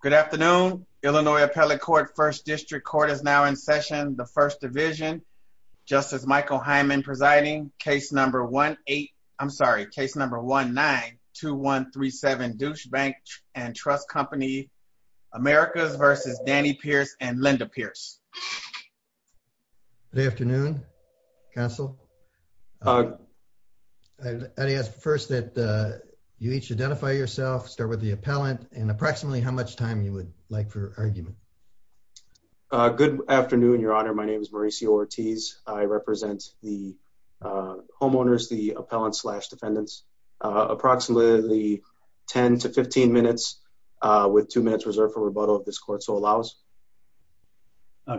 Good afternoon, Illinois Appellate Court, 1st District Court is now in session. The 1st Division, Justice Michael Hyman presiding. Case number 1-8, I'm sorry, case number 1-9-2-1-3-7, Douche Bank and Trust Company, Americas versus Danny Pearce and Linda Pearce. Good afternoon, counsel. I'd like to ask first that you each identify yourself, start with the appellant, and approximately how much time you would like for argument. Good afternoon, Your Honor. My name is Mauricio Ortiz. I represent the homeowners, the appellants slash defendants. Approximately 10 to 15 minutes with two minutes reserved for rebuttal of this court, so allows.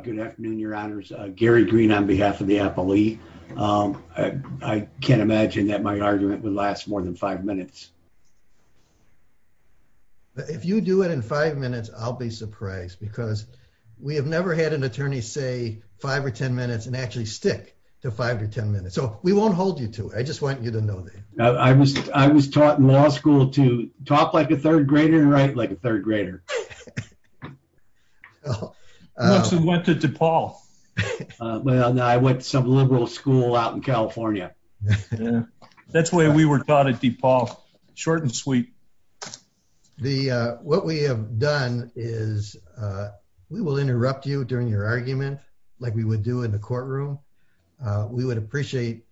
Good afternoon, Your Honors. Gary Green on behalf of the appellee. I can't imagine that my argument would last more than five minutes. If you do it in five minutes, I'll be surprised because we have never had an attorney say five or ten minutes and actually stick to five or ten minutes, so we won't hold you to it. I just want you to know that. I was taught in law school to talk like a third grader and write like a third grader. I also went to DePaul. Well, no, I went to some liberal school out in California. That's the way we were taught at DePaul, short and sweet. What we have done is we will interrupt you during your argument like we would do in the courtroom. We would appreciate,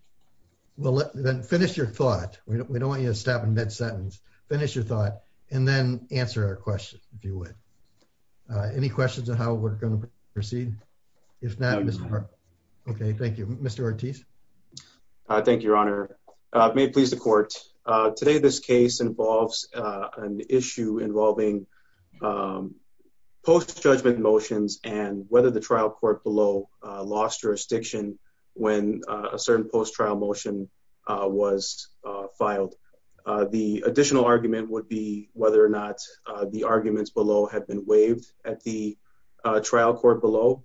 well, then finish your thought. We don't want you to stop in mid-sentence. Finish your thought, and then answer our question, if you would. Any questions on how we're going to proceed? If not, Mr. Parker. Okay, thank you. Mr. Ortiz? Thank you, Your Honor. May it please the court, today this case involves an issue involving post-judgment motions and whether the trial court below lost jurisdiction when a certain post-trial motion was filed. The additional argument would be whether or not the arguments below have been waived at the trial court below.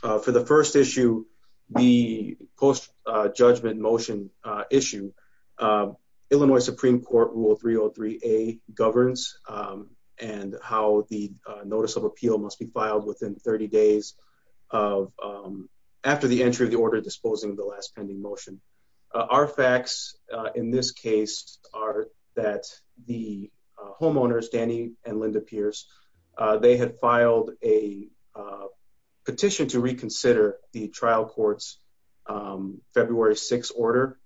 For the first issue, the post-judgment motion issue, Illinois Supreme Court Rule 303A governs and how the notice of appeal must be filed within 30 days after the entry of the order disposing of the last pending motion. Our facts in this case are that the homeowners, Danny and Linda Pierce, they had filed a petition to reconsider the trial court's February 6th order,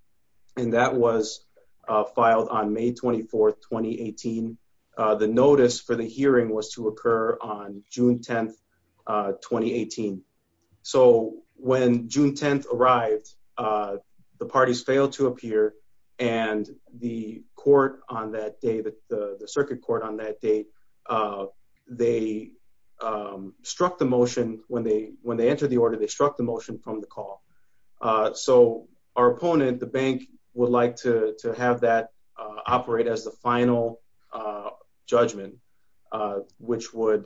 and that was filed on May 24th, 2018. The notice for the hearing was to occur on June 10th, 2018. So when June 10th arrived, the parties failed to appear and the circuit court on that date, they struck the motion when they entered the order, they struck the motion from the call. So our opponent, the bank, would like to have that operate as the final judgment, which would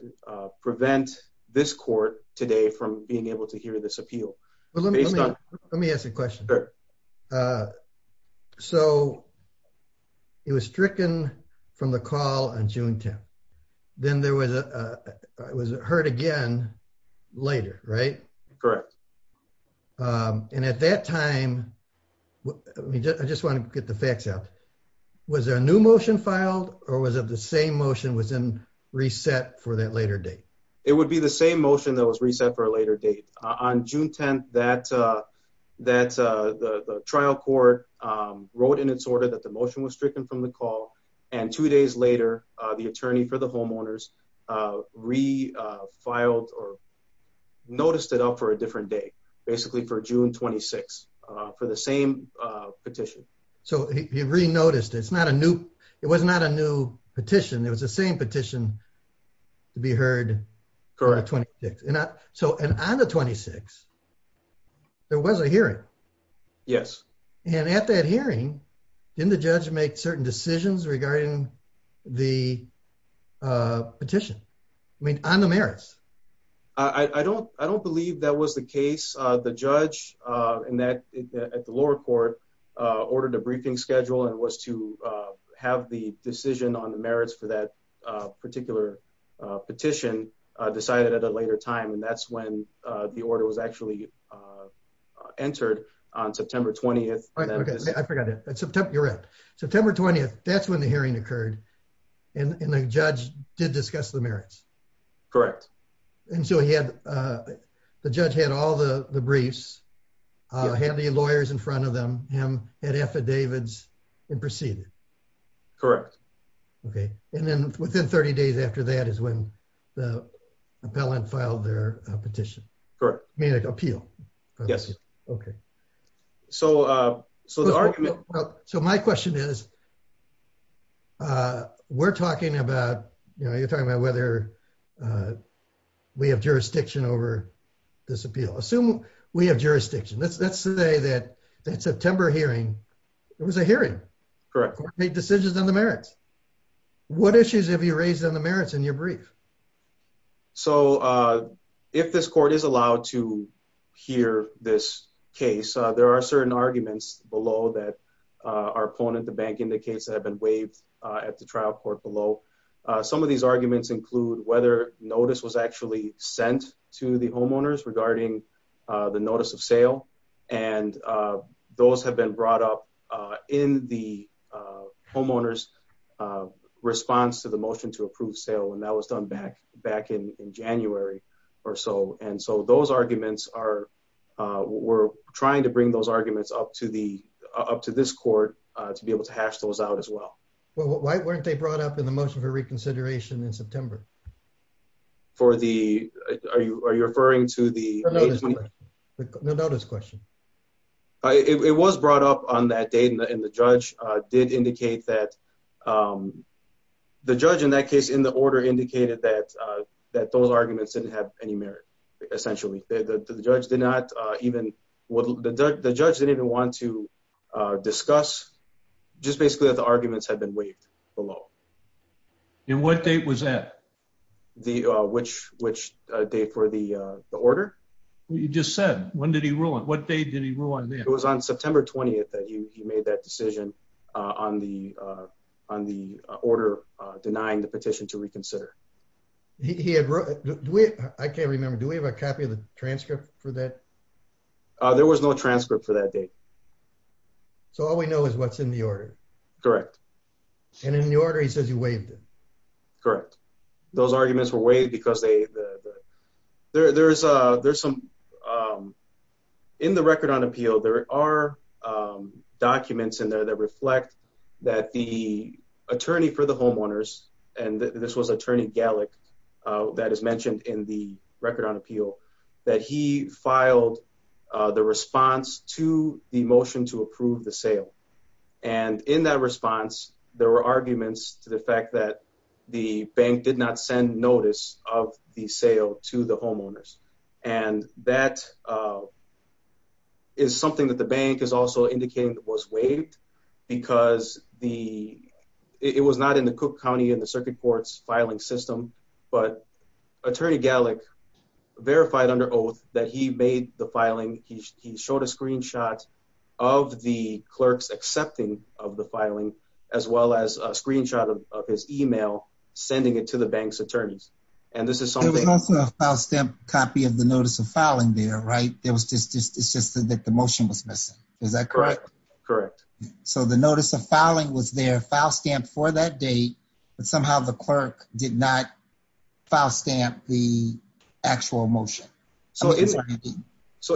prevent this court today from being able to hear this appeal. Let me ask a question. So it was stricken from the call on June 10th, then it was heard again later, right? Correct. And at that time, I just want to get the facts out, was there a new motion filed or was it the same motion was then reset for that later date? It would be the same motion that was reset for a later date. On June 10th, the trial court wrote in its order that the motion was stricken from the call and two days later, the attorney for the homeowners refiled or noticed it up for a different day, basically for June 26th, for the same petition. So he re-noticed, it's not a new, it was not a new petition, it was the same petition to be heard on the 26th. So on the 26th, there was a hearing. Yes. And at that hearing, didn't the judge make certain decisions regarding the petition? I mean, on the merits. I don't believe that was the case. The judge at the lower court ordered a briefing schedule and was to have the decision on the merits for that particular petition decided at a later time. And that's when the order was actually entered on September 20th. I forgot that. You're right. September 20th, that's when the hearing occurred and the judge did discuss the merits. Correct. And so he had, the judge had all the briefs, had the lawyers in front of them, him, had affidavits and proceeded. Correct. Okay. And then within 30 days after that is when the appellant filed their petition. Correct. I mean, appeal. Yes. Okay. So, so the argument. So my question is, we're talking about, you know, you're talking about whether we have jurisdiction over this appeal. Assume we have jurisdiction, let's, let's say that that September hearing, there was a hearing. Correct. Court made decisions on the merits. What issues have you raised on the merits in your brief? So, if this court is allowed to hear this case, there are certain arguments below that our opponent, the bank indicates that have been waived at the trial court below. Some of these arguments include whether notice was actually sent to the homeowners regarding the notice of sale. And those have been brought up in the homeowner's response to the motion to approve sale. And that was done back, back in January or so. And so those arguments are, we're trying to bring those arguments up to the, up to this court to be able to hash those out as well. Well, why weren't they brought up in the motion for reconsideration in September? For the, are you, are you referring to the notice question? It was brought up on that date and the judge did indicate that the judge in that case, in the order indicated that, that those arguments didn't have any merit, essentially. The judge did not even, the judge didn't even want to discuss just basically that the arguments had been waived below. And what date was that? The, which, which date for the, the order? You just said, when did he rule on it? What date did he rule on that? It was on September 20th that he made that decision on the, on the order denying the petition to reconsider. He had wrote, do we, I can't remember, do we have a copy of the transcript for that? There was no transcript for that date. So all we know is what's in the order. Correct. And in the order, he says you waived it. Correct. Those arguments were waived because they, the, there, there's a, there's some, in the record on appeal, there are documents in there that reflect that the attorney for the homeowners and this was attorney Gallick that is mentioned in the record on appeal that he filed the response to the motion to approve the sale. And in that response, there were arguments to the fact that the bank did not send notice of the sale to the homeowners. And that is something that the bank is also indicating that was waived because the, it was not in the Cook County and the circuit courts filing system, but attorney Gallick verified under oath that he made the filing. He showed a screenshot of the clerks accepting of the filing as well as a screenshot of his email sending it to the bank's attorneys. And this is something. There was also a file stamp copy of the notice of filing there, right? There was just, it's just that the motion was missing. Is that correct? Correct. So the notice of filing was there, file stamp for that date, but somehow the clerk did not file stamp the actual motion. So the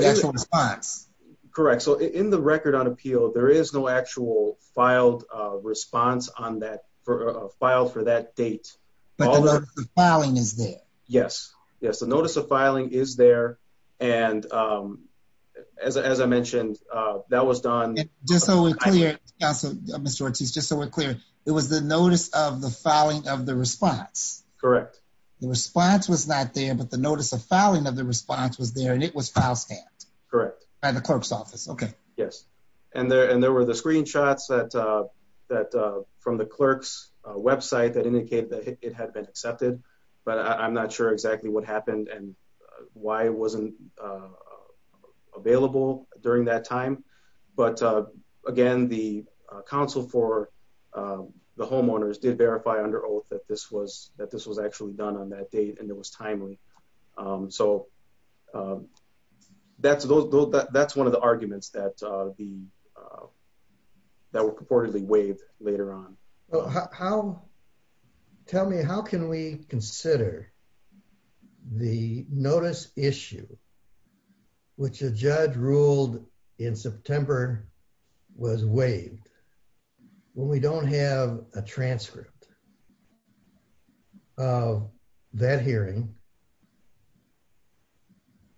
actual response. Correct. So in the record on appeal, there is no actual filed response on that for a file for that date. But the notice of filing is there. Yes. Yes. The notice of filing is there. And as, as I mentioned, that was done. Just so we're clear, Mr. Ortiz, just so we're clear, it was the notice of the filing of the response. Correct. The response was not there, but the notice of filing of the response was there and it was file stamped. Correct. By the clerk's office. Okay. Yes. And there, and there were the screenshots that, that from the clerk's website that indicated that it had been accepted, but I'm not sure exactly what happened and why it wasn't available during that time. But again, the counsel for the homeowners did verify under oath that this was, that this was actually done on that date and it was timely. So that's, that's one of the arguments that the, that were purportedly waived later on. How, tell me, how can we consider the notice issue, which a judge ruled in September was waived when we don't have a transcript of that hearing?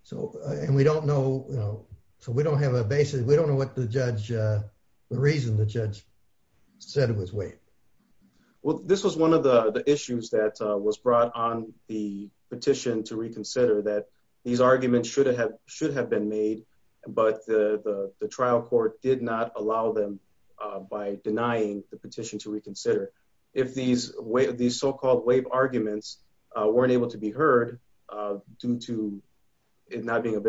So and we don't know, you know, so we don't have a basis. We don't know what the judge, the reason the judge said it was waived. Well, this was one of the issues that was brought on the petition to reconsider that these arguments should have, should have been made, but the, the, the trial court did not allow them by denying the petition to reconsider. If these, these so-called waive arguments weren't able to be heard due to it not being an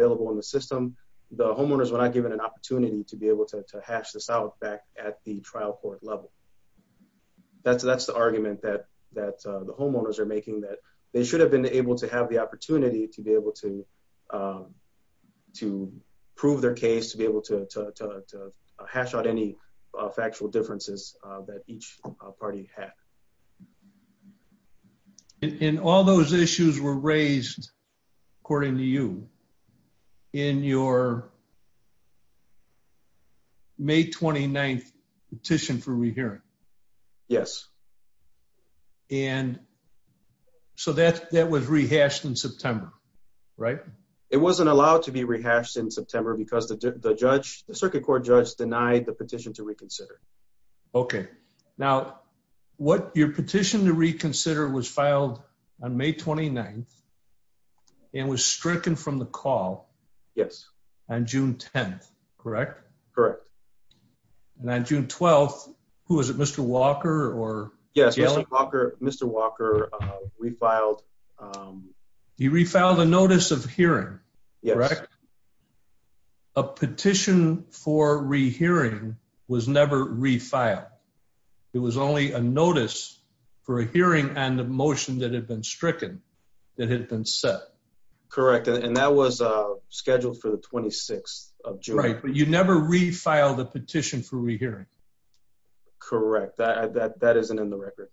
opportunity to be able to hash this out back at the trial court level, that's, that's the argument that, that the homeowners are making that they should have been able to have the opportunity to be able to, to prove their case, to be able to, to, to hash out any factual differences that each party had. And all those issues were raised according to you in your May 29th petition for rehearing. Yes. And so that, that was rehashed in September, right? It wasn't allowed to be rehashed in September because the judge, the circuit court judge denied the petition to reconsider. Okay. Now what your petition to reconsider was filed on May 29th and was stricken from the call Yes. On June 10th. Correct. Correct. And then June 12th, who was it? Mr. Walker or yes, Mr. Walker, Mr. Walker, uh, refiled, um, he refiled a notice of hearing. Correct. A petition for rehearing was never refiled. It was only a notice for a hearing and the motion that had been stricken that had been set. Correct. And that was, uh, scheduled for the 26th of June, but you never refiled a petition for rehearing. Correct. That, that, that isn't in the record.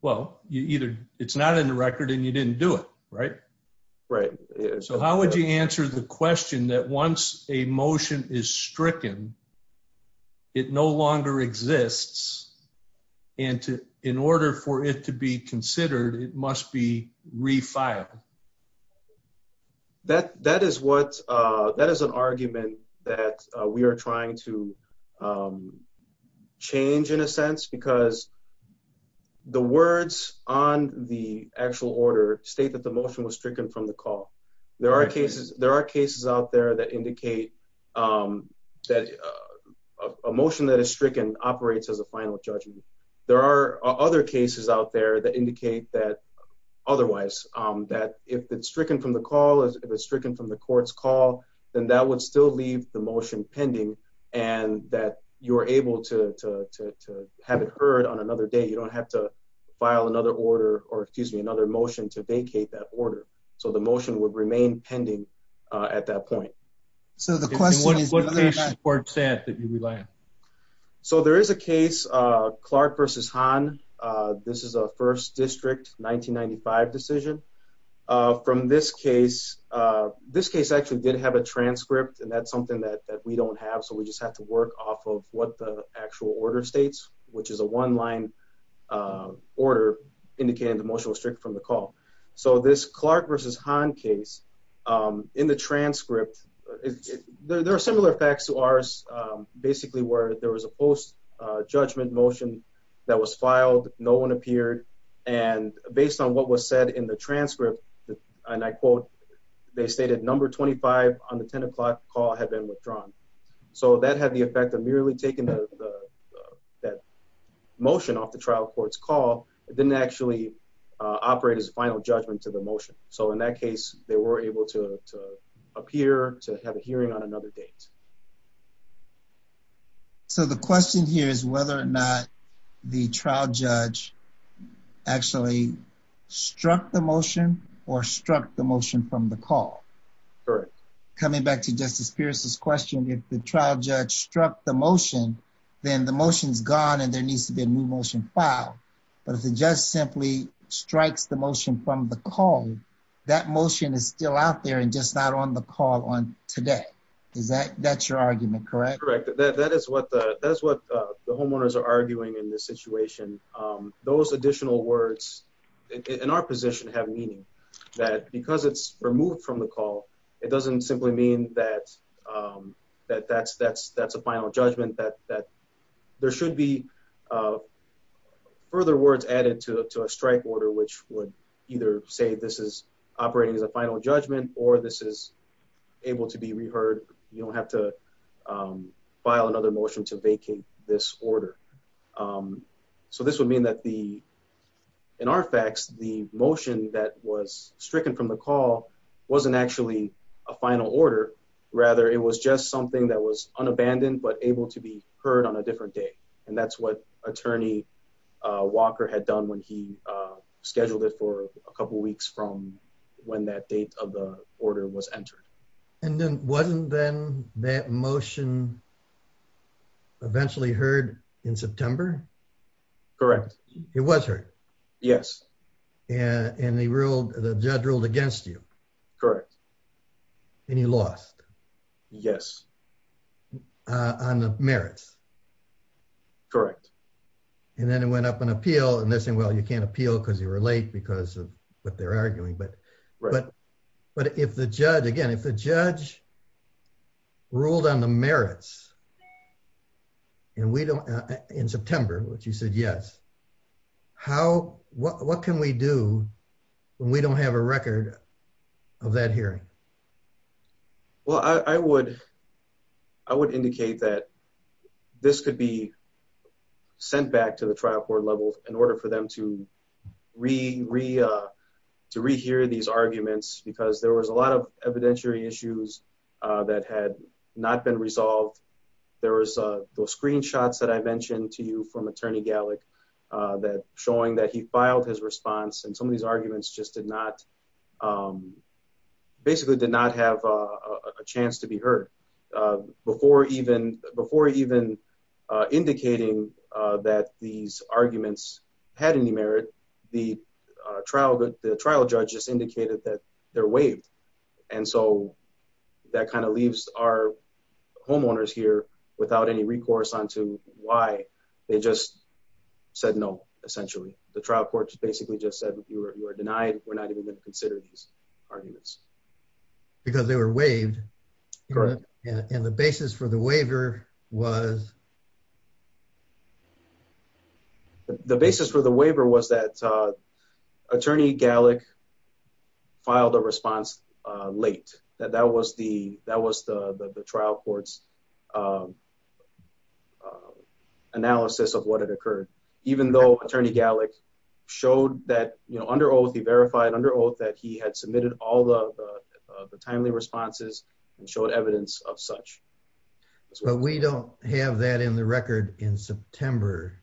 Well, you either, it's not in the record and you didn't do it right, right. So how would you answer the question that once a motion is stricken, it no longer exists and to, in order for it to be considered, it must be refiled. That that is what, uh, that is an argument that we are trying to, um, change in a sense because the words on the actual order state that the motion was stricken from the call. There are cases, there are cases out there that indicate, um, that, uh, a motion that is stricken operates as a final judgment. There are other cases out there that indicate that otherwise, um, that if it's stricken from the call is if it's stricken from the court's call, then that would still leave the motion pending and that you're able to, to, to, to have it heard on another day. You don't have to file another order or excuse me, another motion to vacate that order. So the motion would remain pending, uh, at that point. So the question is, so there is a case, uh, Clark versus Han, uh, this is a first district 1995 decision, uh, from this case, uh, this case actually did have a transcript and that's something that, that we don't have. So we just have to work off of what the actual order states, which is a one line, uh, order indicating the motion was stricken from the call. So this Clark versus Han case, um, in the transcript, there are similar effects to ours. Um, basically where there was a post, uh, judgment motion that was filed, no one appeared and based on what was said in the transcript, and I quote, they stated number 25 on the 10 o'clock call had been withdrawn. So that had the effect of merely taking the, uh, that motion off the trial court's call. It didn't actually, uh, operate as a final judgment to the motion. So in that case, they were able to, to appear to have a hearing on another date. So the question here is whether or not the trial judge actually struck the motion or struck the motion from the call. Correct. Coming back to justice Pierce's question, if the trial judge struck the motion, then the motion's gone and there needs to be a new motion file, but if the judge simply strikes the motion from the call, that motion is still out there and just not on the call on today. Is that, that's your argument, correct? Correct. That is what the, that's what the homeowners are arguing in this situation. Um, those additional words in our position have meaning that because it's removed from the call, it doesn't simply mean that, um, that that's, that's, that's a final judgment that, that there should be, uh, further words added to a, to a strike order, which would either say this is operating as a final judgment, or this is able to be reheard. You don't have to, um, file another motion to vacate this order. Um, so this would mean that the, in our facts, the motion that was stricken from the call wasn't actually a final order. Rather, it was just something that was unabandoned, but able to be heard on a different day. And that's what attorney, uh, Walker had done when he, uh, scheduled it for a couple of weeks from when that date of the order was entered. And then wasn't then that motion eventually heard in September? Correct. It was heard? Yes. And they ruled the judge ruled against you. Correct. And he lost. Yes. On the merits. Correct. And then it went up on appeal and they're saying, well, you can't appeal because you were late because of what they're arguing. But, but, but if the judge, again, if the judge ruled on the merits and we don't in we do, we don't have a record of that hearing. Well, I would, I would indicate that this could be sent back to the trial court levels in order for them to re re, uh, to rehear these arguments, because there was a lot of evidentiary issues, uh, that had not been resolved. There was, uh, those screenshots that I mentioned to you from attorney Gallick, uh, that showing that he filed his response. And some of these arguments just did not, um, basically did not have a chance to be heard, uh, before even before even, uh, indicating, uh, that these arguments had any merit. The, uh, trial, the trial judge just indicated that they're waived. And so that kind of leaves our homeowners here without any recourse onto why they just said no, essentially. The trial courts basically just said, you are, you are denied. We're not even going to consider these arguments. Because they were waived and the basis for the waiver was. The basis for the waiver was that, uh, attorney Gallick filed a response, uh, late that that was the, that was the, the, the trial courts, um, uh, analysis of what had occurred, even though attorney Gallick showed that, you know, under oath, he verified under oath that he had submitted all the, uh, the timely responses and showed evidence of such. But we don't have that in the record in September.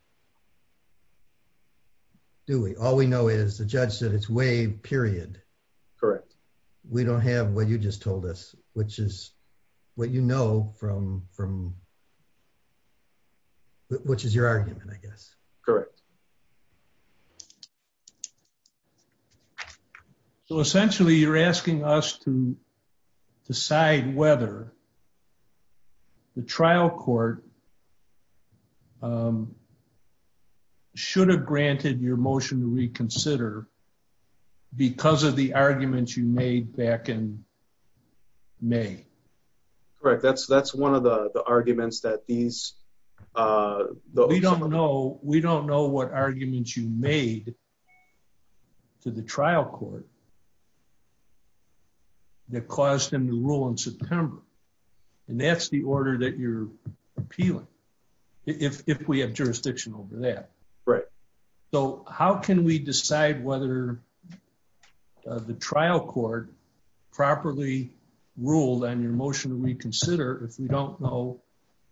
Do we, all we know is the judge said it's way period. Correct. We don't have what you just told us, which is what, you know, from, from which is your argument, I guess. Correct. So essentially you're asking us to decide whether the trial court, um, should have granted your motion to reconsider because of the arguments you made back in May. Correct. That's, that's one of the arguments that these, uh, we don't know. We don't know what arguments you made to the trial court that caused him to rule in September. And that's the order that you're appealing. If we have jurisdiction over that. Right. So how can we decide whether the trial court properly ruled on your motion to reconsider if we don't know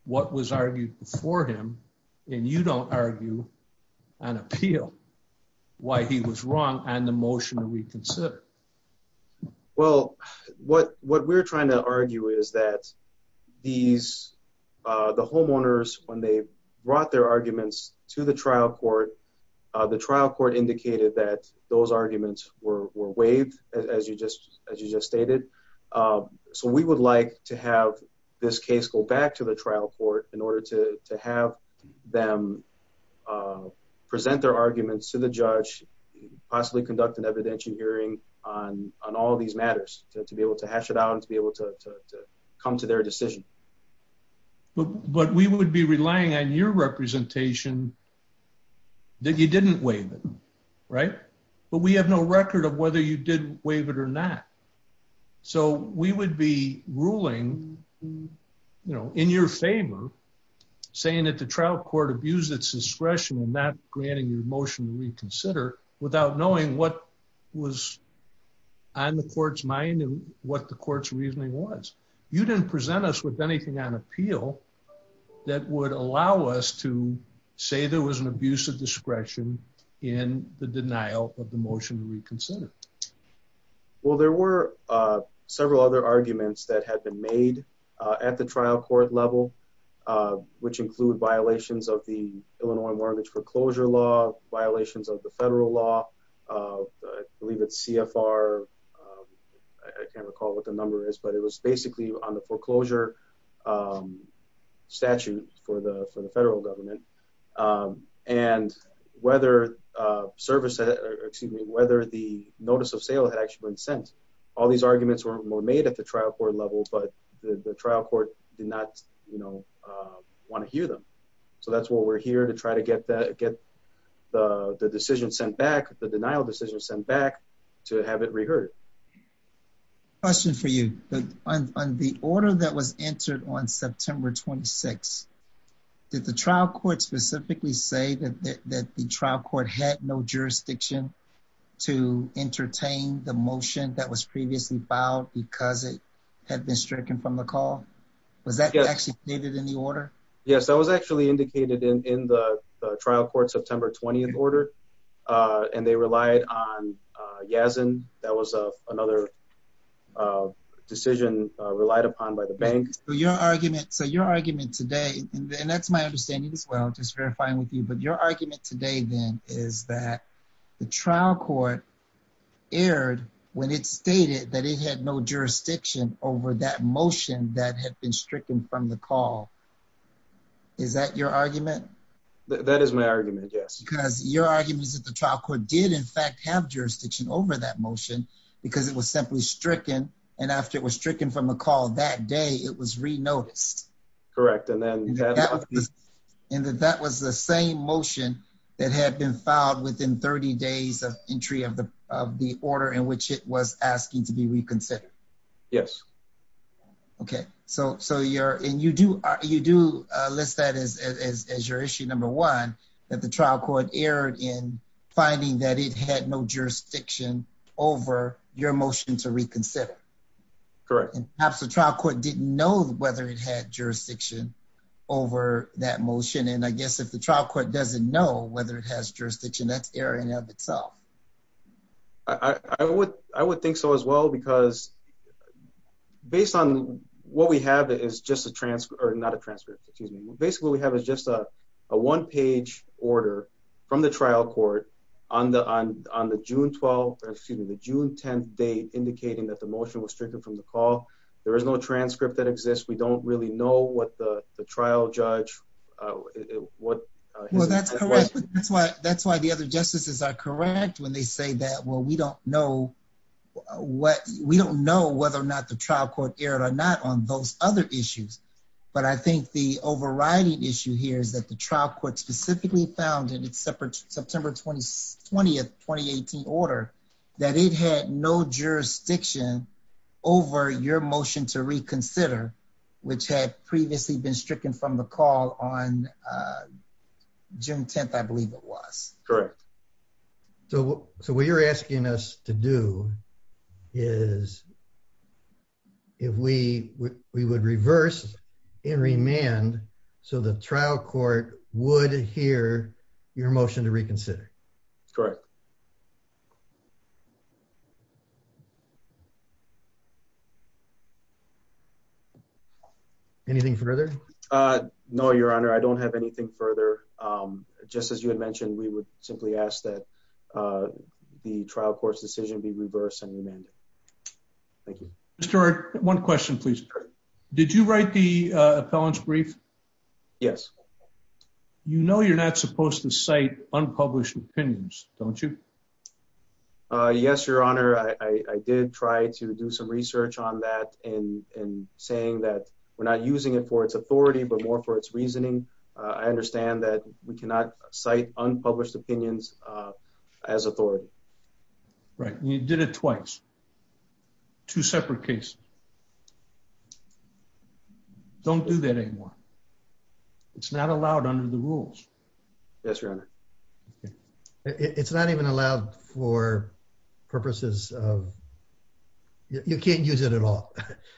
what was argued before him and you don't argue and appeal why he was wrong and the motion to reconsider. Well, what, what we're trying to argue is that these, uh, the homeowners, when they brought their arguments to the trial court, uh, the trial court indicated that those arguments were, were waived as you just, as you just stated. Um, so we would like to have this case go back to the trial court in order to, to have them, uh, present their arguments to the judge, possibly conduct an evidentiary hearing on, on all of these matters to be able to hash it out and to be able to, to, to come to their decision. But we would be relying on your representation that you didn't waive it, right? But we have no record of whether you did waive it or not. So we would be ruling, you know, in your favor saying that the trial court abused its discretion and not granting your motion to reconsider without knowing what was on the court's mind and what the court's reasoning was. You didn't present us with anything on appeal that would allow us to say there was an abuse of discretion in the denial of the motion to reconsider. Well, there were, uh, several other arguments that had been made, uh, at the trial court level, uh, which include violations of the Illinois mortgage foreclosure law, violations of the federal law, uh, I believe it's CFR. I can't recall what the number is, but it was basically on the foreclosure, um, statute for the, for the federal government. Um, and whether, uh, service, uh, excuse me, whether the notice of sale had actually been sent. All these arguments were made at the trial court level, but the trial court did not, you know, uh, want to hear them. So that's why we're here to try to get that, get the decision sent back, the denial decision sent back to have it reheard. Question for you on the order that was entered on September 26th. Did the trial court specifically say that the trial court had no jurisdiction to entertain the motion that was previously filed because it had been stricken from the call? Was that actually stated in the order? Yes, that was actually indicated in, in the trial court, September 20th order. Uh, and they relied on, uh, Yasin. That was, uh, another, uh, decision, uh, relied upon by the bank. So your argument, so your argument today, and that's my understanding as well, just verifying with you, but your argument today then is that the trial court aired when it stated that it had no jurisdiction over that motion that had been stricken from the call. Is that your argument? That is my argument. Because your argument is that the trial court did in fact have jurisdiction over that motion because it was simply stricken. And after it was stricken from a call that day, it was re-noticed. Correct. And that that was the same motion that had been filed within 30 days of entry of the, of the order in which it was asking to be reconsidered. Yes. Okay. So, so you're, and you do, you do list that as, as, as your issue number one, that the trial court aired in finding that it had no jurisdiction over your motion to reconsider. Correct. And perhaps the trial court didn't know whether it had jurisdiction over that motion. And I guess if the trial court doesn't know whether it has jurisdiction, that's airing of itself. I would, I would think so as well, because based on what we have is just a trans or not a transcript, excuse me. Basically what we have is just a, a one page order from the trial court on the, on, on the June 12th, excuse me, the June 10th date indicating that the motion was stricken from the call. There is no transcript that exists. We don't really know what the, the trial judge, what. Well, that's correct. That's why, that's why the other justices are correct when they say that, well, we don't know what we don't know whether or not the trial court aired or not on those other issues. But I think the overriding issue here is that the trial court specifically found in its separate September 20th, 2018 order that it had no jurisdiction over your motion to reconsider, which had previously been stricken from the call on, uh, June 10th, I believe it was. Correct. So, so what you're asking us to do is if we, we would reverse and remand. So the trial court would hear your motion to reconsider. Correct. Anything further? Uh, no, your honor. I don't have anything further. Um, just as you had mentioned, we would simply ask that, uh, the trial court's decision be reversed and remanded. Thank you. Mr. Eric, one question, please. Did you write the, uh, appellant's brief? Yes. You know, you're not supposed to cite unpublished opinions, don't you? Uh, yes, your honor. I did try to do some research on that and saying that we're not using it for its authority, but more for its reasoning. Uh, I understand that we cannot cite unpublished opinions, uh, as authority. Right. You did it twice, two separate cases. Don't do that anymore. It's not allowed under the rules. Yes, your honor. Okay. It's not even allowed for purposes of, you can't use it at all.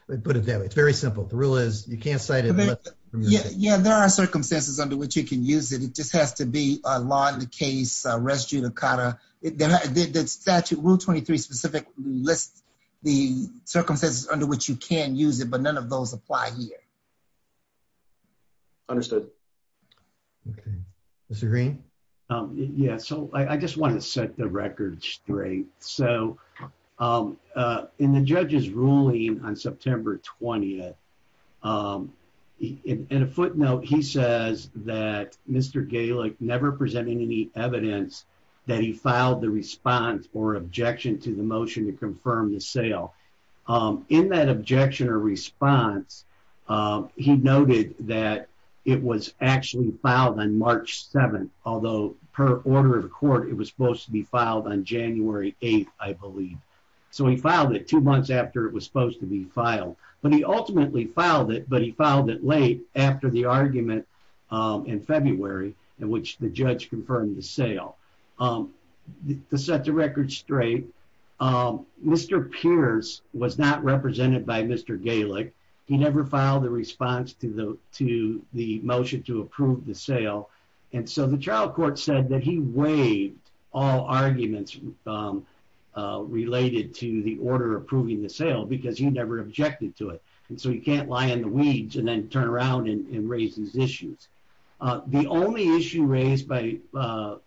Put it that way. It's very simple. The rule is you can't cite it. Yeah. There are circumstances under which you can use it. It just has to be a law in the case, a res judicata. It did that statute rule 23 specific lists the circumstances under which you can use it, but none of those apply here. Understood. Okay. Mr. Green. Yeah. So I just want to set the record straight. So, um, uh, in the judge's ruling on September 20th, um, in a footnote, he says that Mr. Gaelic never presenting any evidence that he filed the response or objection to the motion to confirm the sale. Um, in that objection or response, um, he noted that it was actually filed on March 7th, although per order of the court, it was supposed to be filed on January 8th, I believe. So he filed it two months after it was supposed to be filed, but he ultimately filed it, but he filed it late after the argument, um, in February in which the judge confirmed the sale, um, to set the record straight. Um, Mr. Pierce was not represented by Mr. Gaelic. He never filed a response to the, to the motion to approve the sale. And so the trial court said that he waived all arguments, um, uh, related to the order approving the sale because he never objected to it. And so you can't lie in the weeds and then turn around and raise these issues. Uh, the only issue raised by, uh,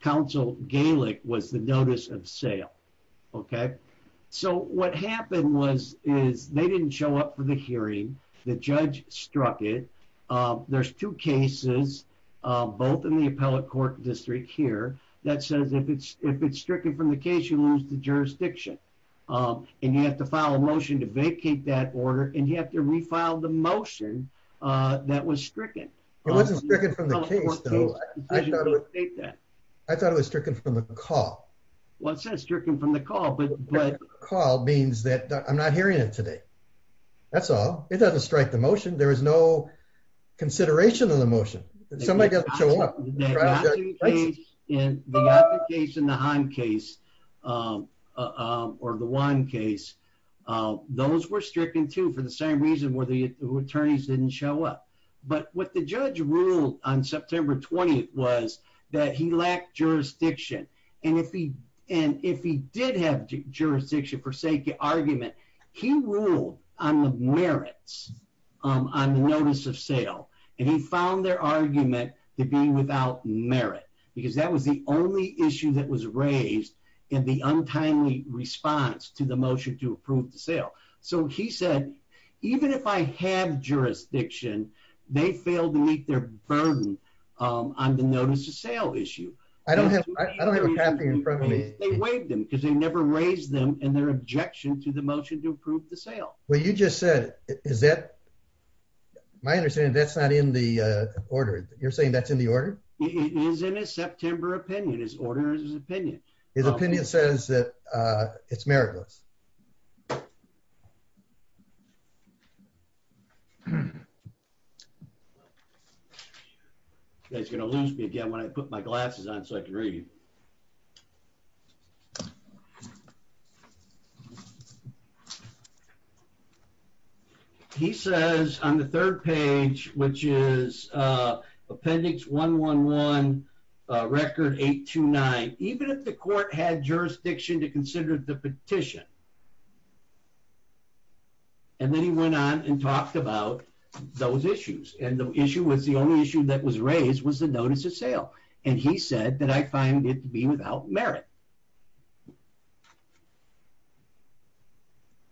counsel Gaelic was the notice of sale. Okay. So what happened was, is they didn't show up for the hearing. The judge struck it. Uh, there's two cases, uh, both in the appellate court district here that says if it's, if it's stricken from the case, you lose the jurisdiction. Um, and you have to file a motion to vacate that order and you have to refile the motion, uh, that was stricken. It wasn't stricken from the case though. I thought it was stricken from the call. What's that stricken from the call? But the call means that I'm not hearing it today. That's all. It doesn't strike the motion. There is no consideration of the motion. Somebody got to show up. In the application, the Han case, um, uh, or the one case, uh, those were stricken too, for the same reason where the attorneys didn't show up. But what the judge ruled on September 20th was that he lacked jurisdiction. And if he, and if he did have jurisdiction for sake of argument, he ruled on the merits, um, on the notice of sale. And he found their argument to be without merit because that was the only issue that was raised in the untimely response to the motion to approve the sale. So he said, even if I have jurisdiction, they failed to meet their burden, um, on the notice of sale issue. I don't have, I don't have a copy in front of me. They waived them because they never raised them and their objection to the motion to approve the sale. Well, you just said, is that my understanding? That's not in the, uh, order. You're saying that's in the order. It is in a September opinion. His order is his opinion. His opinion says that, uh, it's meritless. That's going to lose me again. I put my glasses on so I can read. He says on the third page, which is, uh, appendix one, one, one, uh, record eight to nine, even if the court had jurisdiction to consider the petition. And then he went on and talked about those issues. And the issue was the only issue that was raised was the notice of sale. And he said that I find it to be without merit.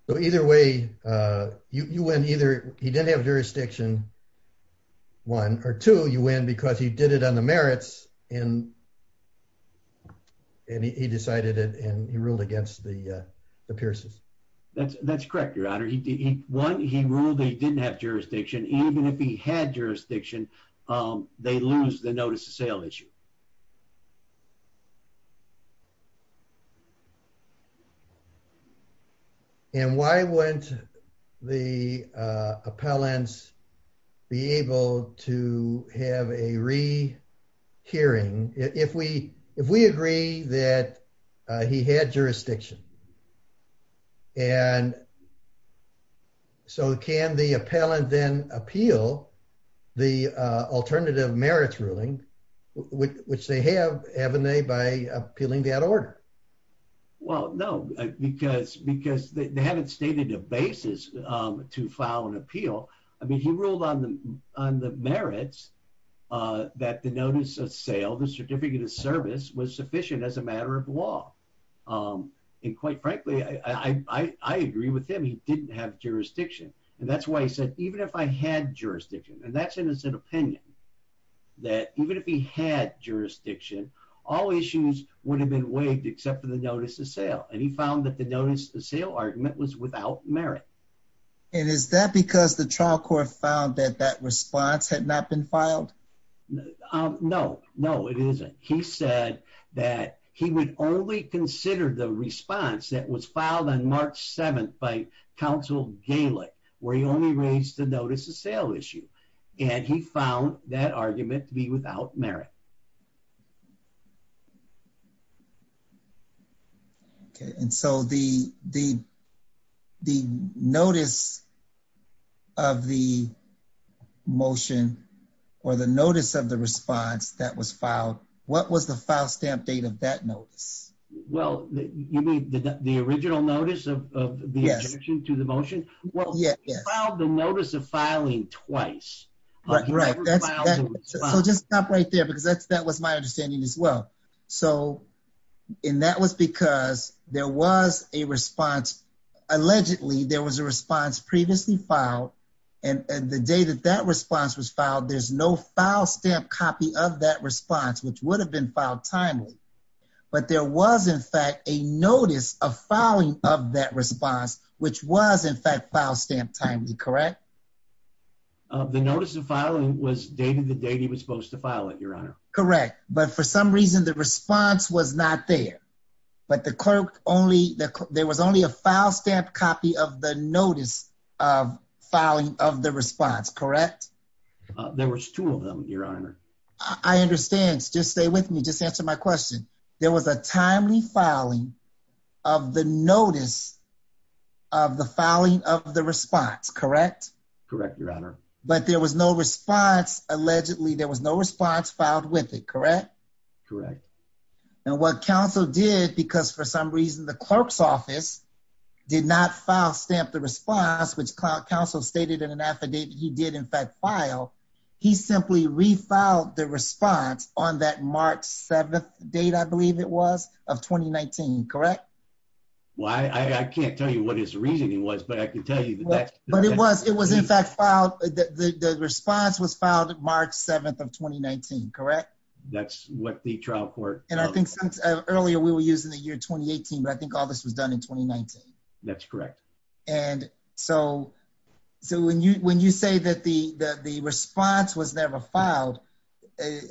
So either way, uh, you, you went either. He didn't have jurisdiction one or two. You win because he did it on the merits and he decided it and he ruled against the, uh, the pierces. That's that's correct. One, he ruled they didn't have jurisdiction. Even if he had jurisdiction, um, they lose the notice of sale issue. And why wouldn't the, uh, appellants be able to have a re hearing if we, if we agree that, uh, he had jurisdiction and so can the appellant then appeal the, uh, alternative merits ruling which they have, haven't they by appealing that order? Well, no, because, because they haven't stated a basis, um, to file an appeal. I mean, he ruled on the, on the merits, uh, that the notice of sale, the certificate of law. Um, and quite frankly, I, I, I, I agree with him. He didn't have jurisdiction and that's why he said, even if I had jurisdiction and that's an, as an opinion that even if he had jurisdiction, all issues would have been waived except for the notice of sale. And he found that the notice, the sale argument was without merit. And is that because the trial court found that that response had not been filed? No, no, it isn't. He said that he would only consider the response that was filed on March 7th by counsel Galick, where he only raised the notice of sale issue. And he found that argument to be without merit. Okay. And so the, the, the notice of the motion or the notice of the response that was filed what was the file stamp date of that notice? Well, you mean the original notice of the addition to the motion? Well, he filed the notice of filing twice. Right. So just stop right there because that's, that was my understanding as well. So, and that was because there was a response, allegedly there was a response previously filed. And the day that that response was filed, there's no file stamp copy of that response, which would have been filed timely, but there was in fact, a notice of filing of that response, which was in fact, file stamp timely. Correct. The notice of filing was dated the date he was supposed to file it. Your honor. Correct. But for some reason, the response was not there, but the clerk only there was only a file stamp copy of the notice of filing of the response. Correct. There was two of them. Your honor. I understand. Just stay with me. Just answer my question. There was a timely filing of the notice of the filing of the response, correct? Correct. Your honor. But there was no response. Allegedly, there was no response filed with it. Correct? Correct. And what counsel did, because for some reason the clerk's office did not file stamp the response, which counsel stated in an affidavit, he did in fact file. He simply refiled the response on that March 7th date, I believe it was of 2019. Correct? Why? I can't tell you what his reasoning was, but I can tell you that. But it was, it was in fact filed. The response was filed March 7th of 2019. Correct? That's what the trial court. And I think earlier we were using the year 2018, but I think all this was done in 2019. That's correct. And so, so when you, when you say that the, that the response was never filed,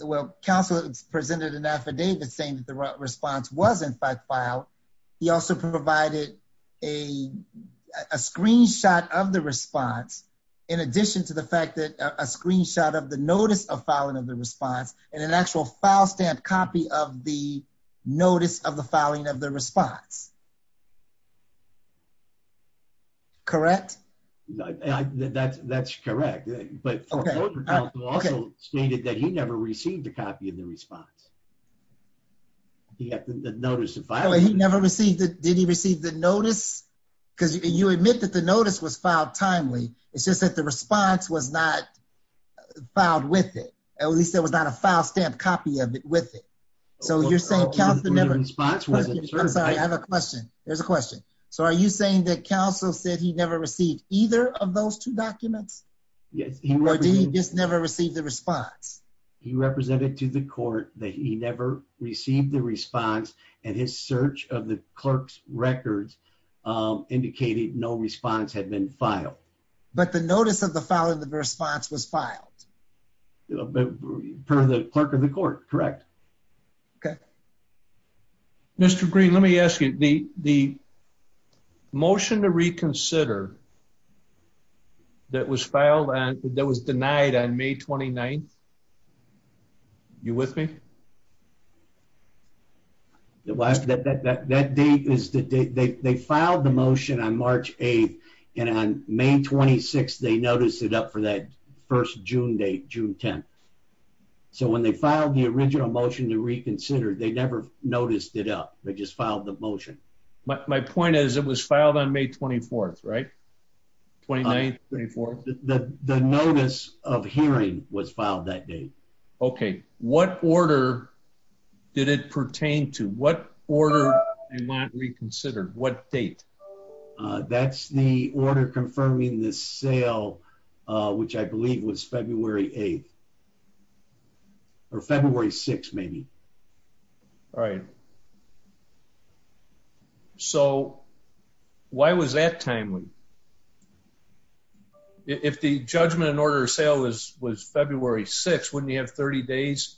well, counsel presented an affidavit saying that the response was in fact filed. He also provided a screenshot of the response in addition to the fact that a screenshot of the notice of filing of the response and an actual file stamp copy of the notice of the filing of the response. Correct? That's, that's correct. But also stated that he never received a copy of the response. He had the notice of filing. He never received it. Did he receive the notice? Because you admit that the notice was filed timely. It's just that the response was not filed with it. At least there was not a file stamp copy of it with it. So you're saying counsel never. Response wasn't served. I'm sorry. I have a question. There's a question. So are you saying that counsel said he never received either of those two documents? Yes. He just never received the response. He represented to the court that he never received the response and his search of the clerk's records indicated no response had been filed, but the notice of the following the response was filed per the clerk of the court. Correct. Okay. Mr. Green. Let me ask you the, the. Motion to reconsider that was filed and that was denied on May 29th. You with me? That date is the date they filed the motion on March 8th and on May 26th, they noticed it up for that first June date, June 10th. So when they filed the original motion to reconsider, they never noticed it up. They just filed the motion. My point is it was filed on May 24th, right? 29th, 24th. The notice of hearing was filed that day. Okay. What order did it pertain to? What order they not reconsidered? What date? That's the order confirming this sale, which I believe was February 8th or February 6th. Maybe. All right. So why was that timely? If the judgment and order of sale was, was February 6th, wouldn't you have 30 days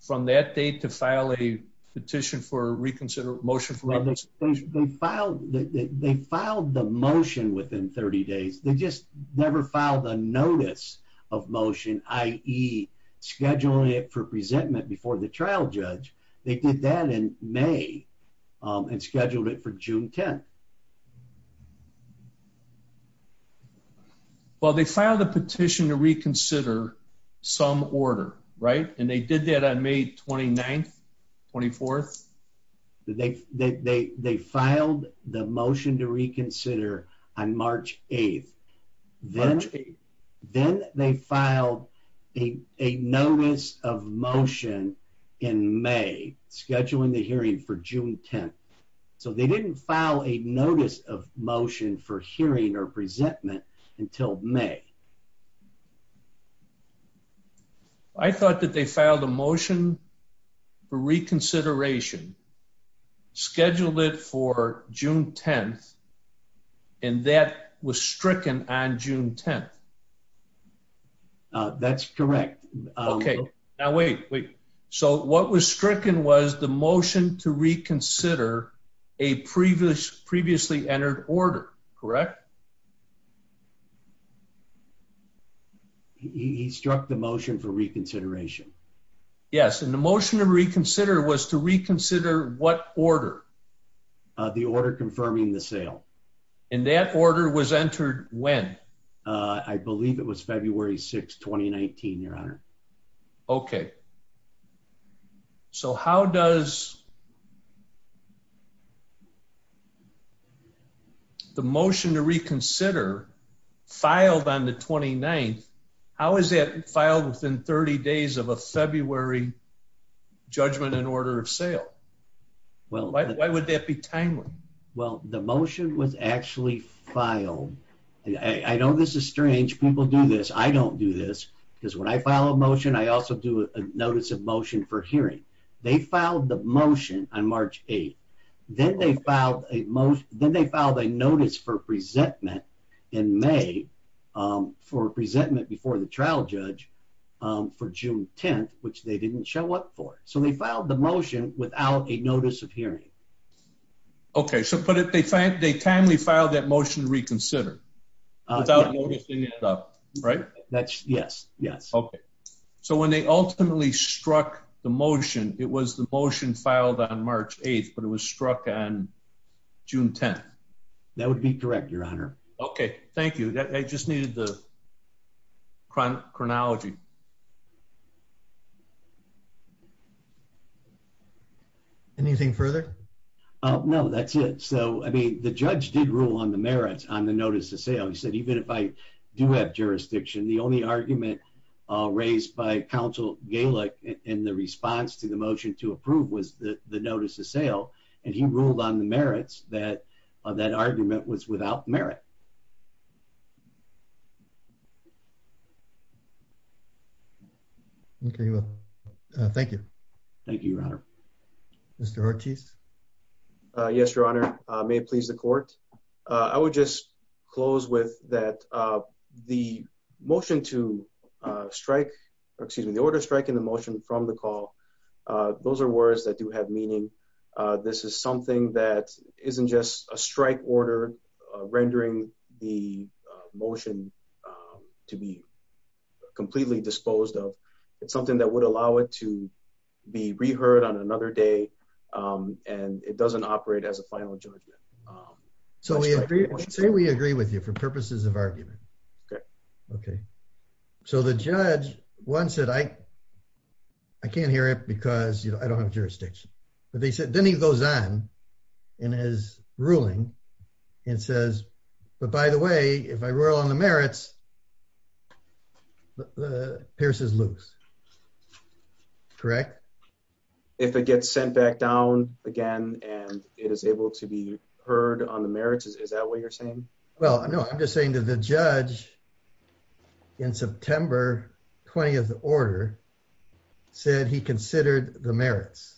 from that date to file a petition for reconsider motion? They filed the motion within 30 days. They just never filed a notice of motion. I E scheduling it for presentment before the trial judge. They did that in May and scheduled it for June 10th. Well, they filed a petition to reconsider some order, right? And they did that on May 29th, 24th. They filed the motion to reconsider on March 8th. Then, then they filed a, a notice of motion in May scheduling the hearing for June 10th. So they didn't file a notice of motion for hearing or presentment until May. I thought that they filed a motion for reconsideration scheduled it for June 10th. And that was stricken on June 10th. That's correct. Okay. Now, wait, wait. So what was stricken was the motion to reconsider a previous previously entered order, correct? He struck the motion for reconsideration. Yes. And the motion to reconsider was to reconsider what order. The order confirming the sale. And that order was entered when? I believe it was February 6th, 2019, your honor. Okay. So how does the motion to reconsider filed on the 29th? How is that filed within 30 days of a February judgment in order of sale? Well, why would that be timely? Well, the motion was actually filed. I know this is strange. People do this. I don't do this because when I file a motion, I also do a notice of motion for hearing. They filed the motion on March 8th. Then they filed a motion. Then they filed a notice for presentment in May for presentment before the trial judge for June 10th, which they didn't show up for. So they filed the motion without a notice of hearing. Okay. So, but if they, they timely filed that motion to reconsider without noticing it up, right? That's yes. Yes. Okay. So when they ultimately struck the motion, it was the motion filed on March 8th, but it was struck on June 10th. That would be correct, your honor. Okay. Thank you. I just needed the chronology. Okay. Anything further? Oh, no, that's it. So, I mean, the judge did rule on the merits on the notice of sale. He said, even if I do have jurisdiction, the only argument raised by counsel Gaelic in the response to the motion to approve was the notice of sale. And he ruled on the merits that that argument was without merit. Okay. Thank you. Thank you, your honor. Mr. Ortiz. Yes, your honor. May it please the court. I would just close with that. The motion to strike, or excuse me, the order strike in the motion from the call. Those are words that do have meaning. This is something that isn't just a strike order rendering the motion to be completely disposed of. It's something that would allow it to be reheard on another day. And it doesn't operate as a final judgment. So, I'd say we agree with you for purposes of argument. Okay. Okay. So, the judge, one said, I can't hear it because I don't have jurisdiction. But then he goes on in his ruling and says, but by the way, if I rule on the merits, the Pierce is loose, correct? If it gets sent back down again, and it is able to be heard on the merits. Is that what you're saying? Well, no, I'm just saying to the judge in September 20th order said he considered the merits.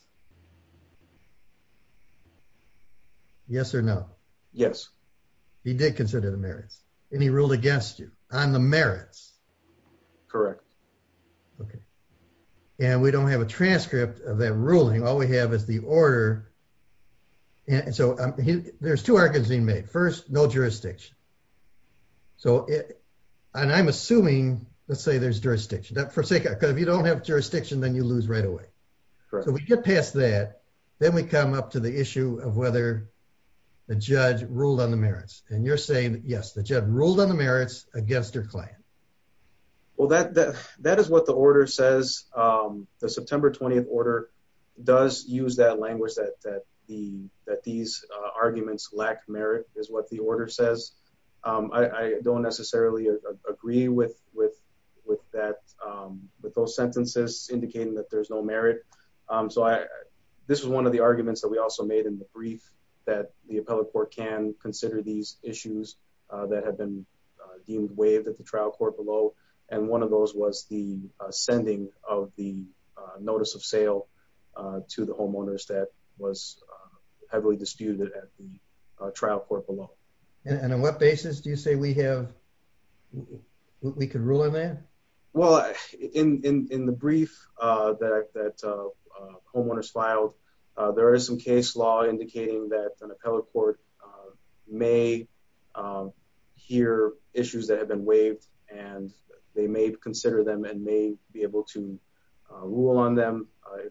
Yes or no? Yes. He did consider the merits and he ruled against you. On the merits. Correct. Okay. And we don't have a transcript of that ruling. All we have is the order. And so, there's two arguments being made. First, no jurisdiction. So, and I'm assuming, let's say there's jurisdiction. For sake, because if you don't have jurisdiction, then you lose right away. So, we get past that. Then we come up to the issue of whether the judge ruled on the merits. And you're saying, yes, the judge ruled on the merits against your client. Well, that is what the order says. The September 20th order does use that language that these arguments lack merit is what the order says. I don't necessarily agree with those sentences indicating that there's no merit. So, this was one of the arguments that we also made in the brief that the appellate court can consider these issues that have been deemed waived at the trial court below. And one of those was the sending of the notice of sale to the homeowners that was heavily disputed at the trial court below. And on what basis do you say we have, we could rule on that? Well, in the brief that homeowners filed, there is some case law indicating that an may hear issues that have been waived and they may consider them and may be able to rule on them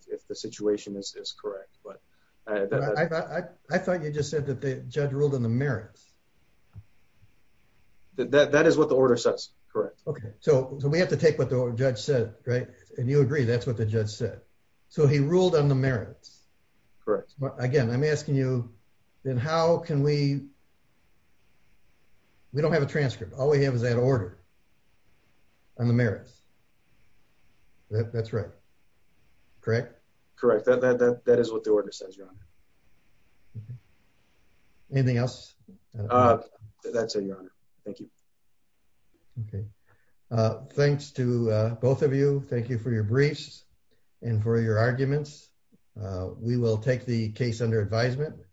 if the situation is correct. But I thought you just said that the judge ruled on the merits. That is what the order says. Correct. Okay. So, we have to take what the judge said, right? And you agree that's what the judge said. So, he ruled on the merits. Correct. Again, I'm asking you, then how can we, we don't have a transcript. All we have is that order on the merits. That's right. Correct? That is what the order says, Your Honor. Anything else? That's it, Your Honor. Thank you. Okay. Thanks to both of you. Thank you for your briefs and for your arguments. We will take the case under advisement.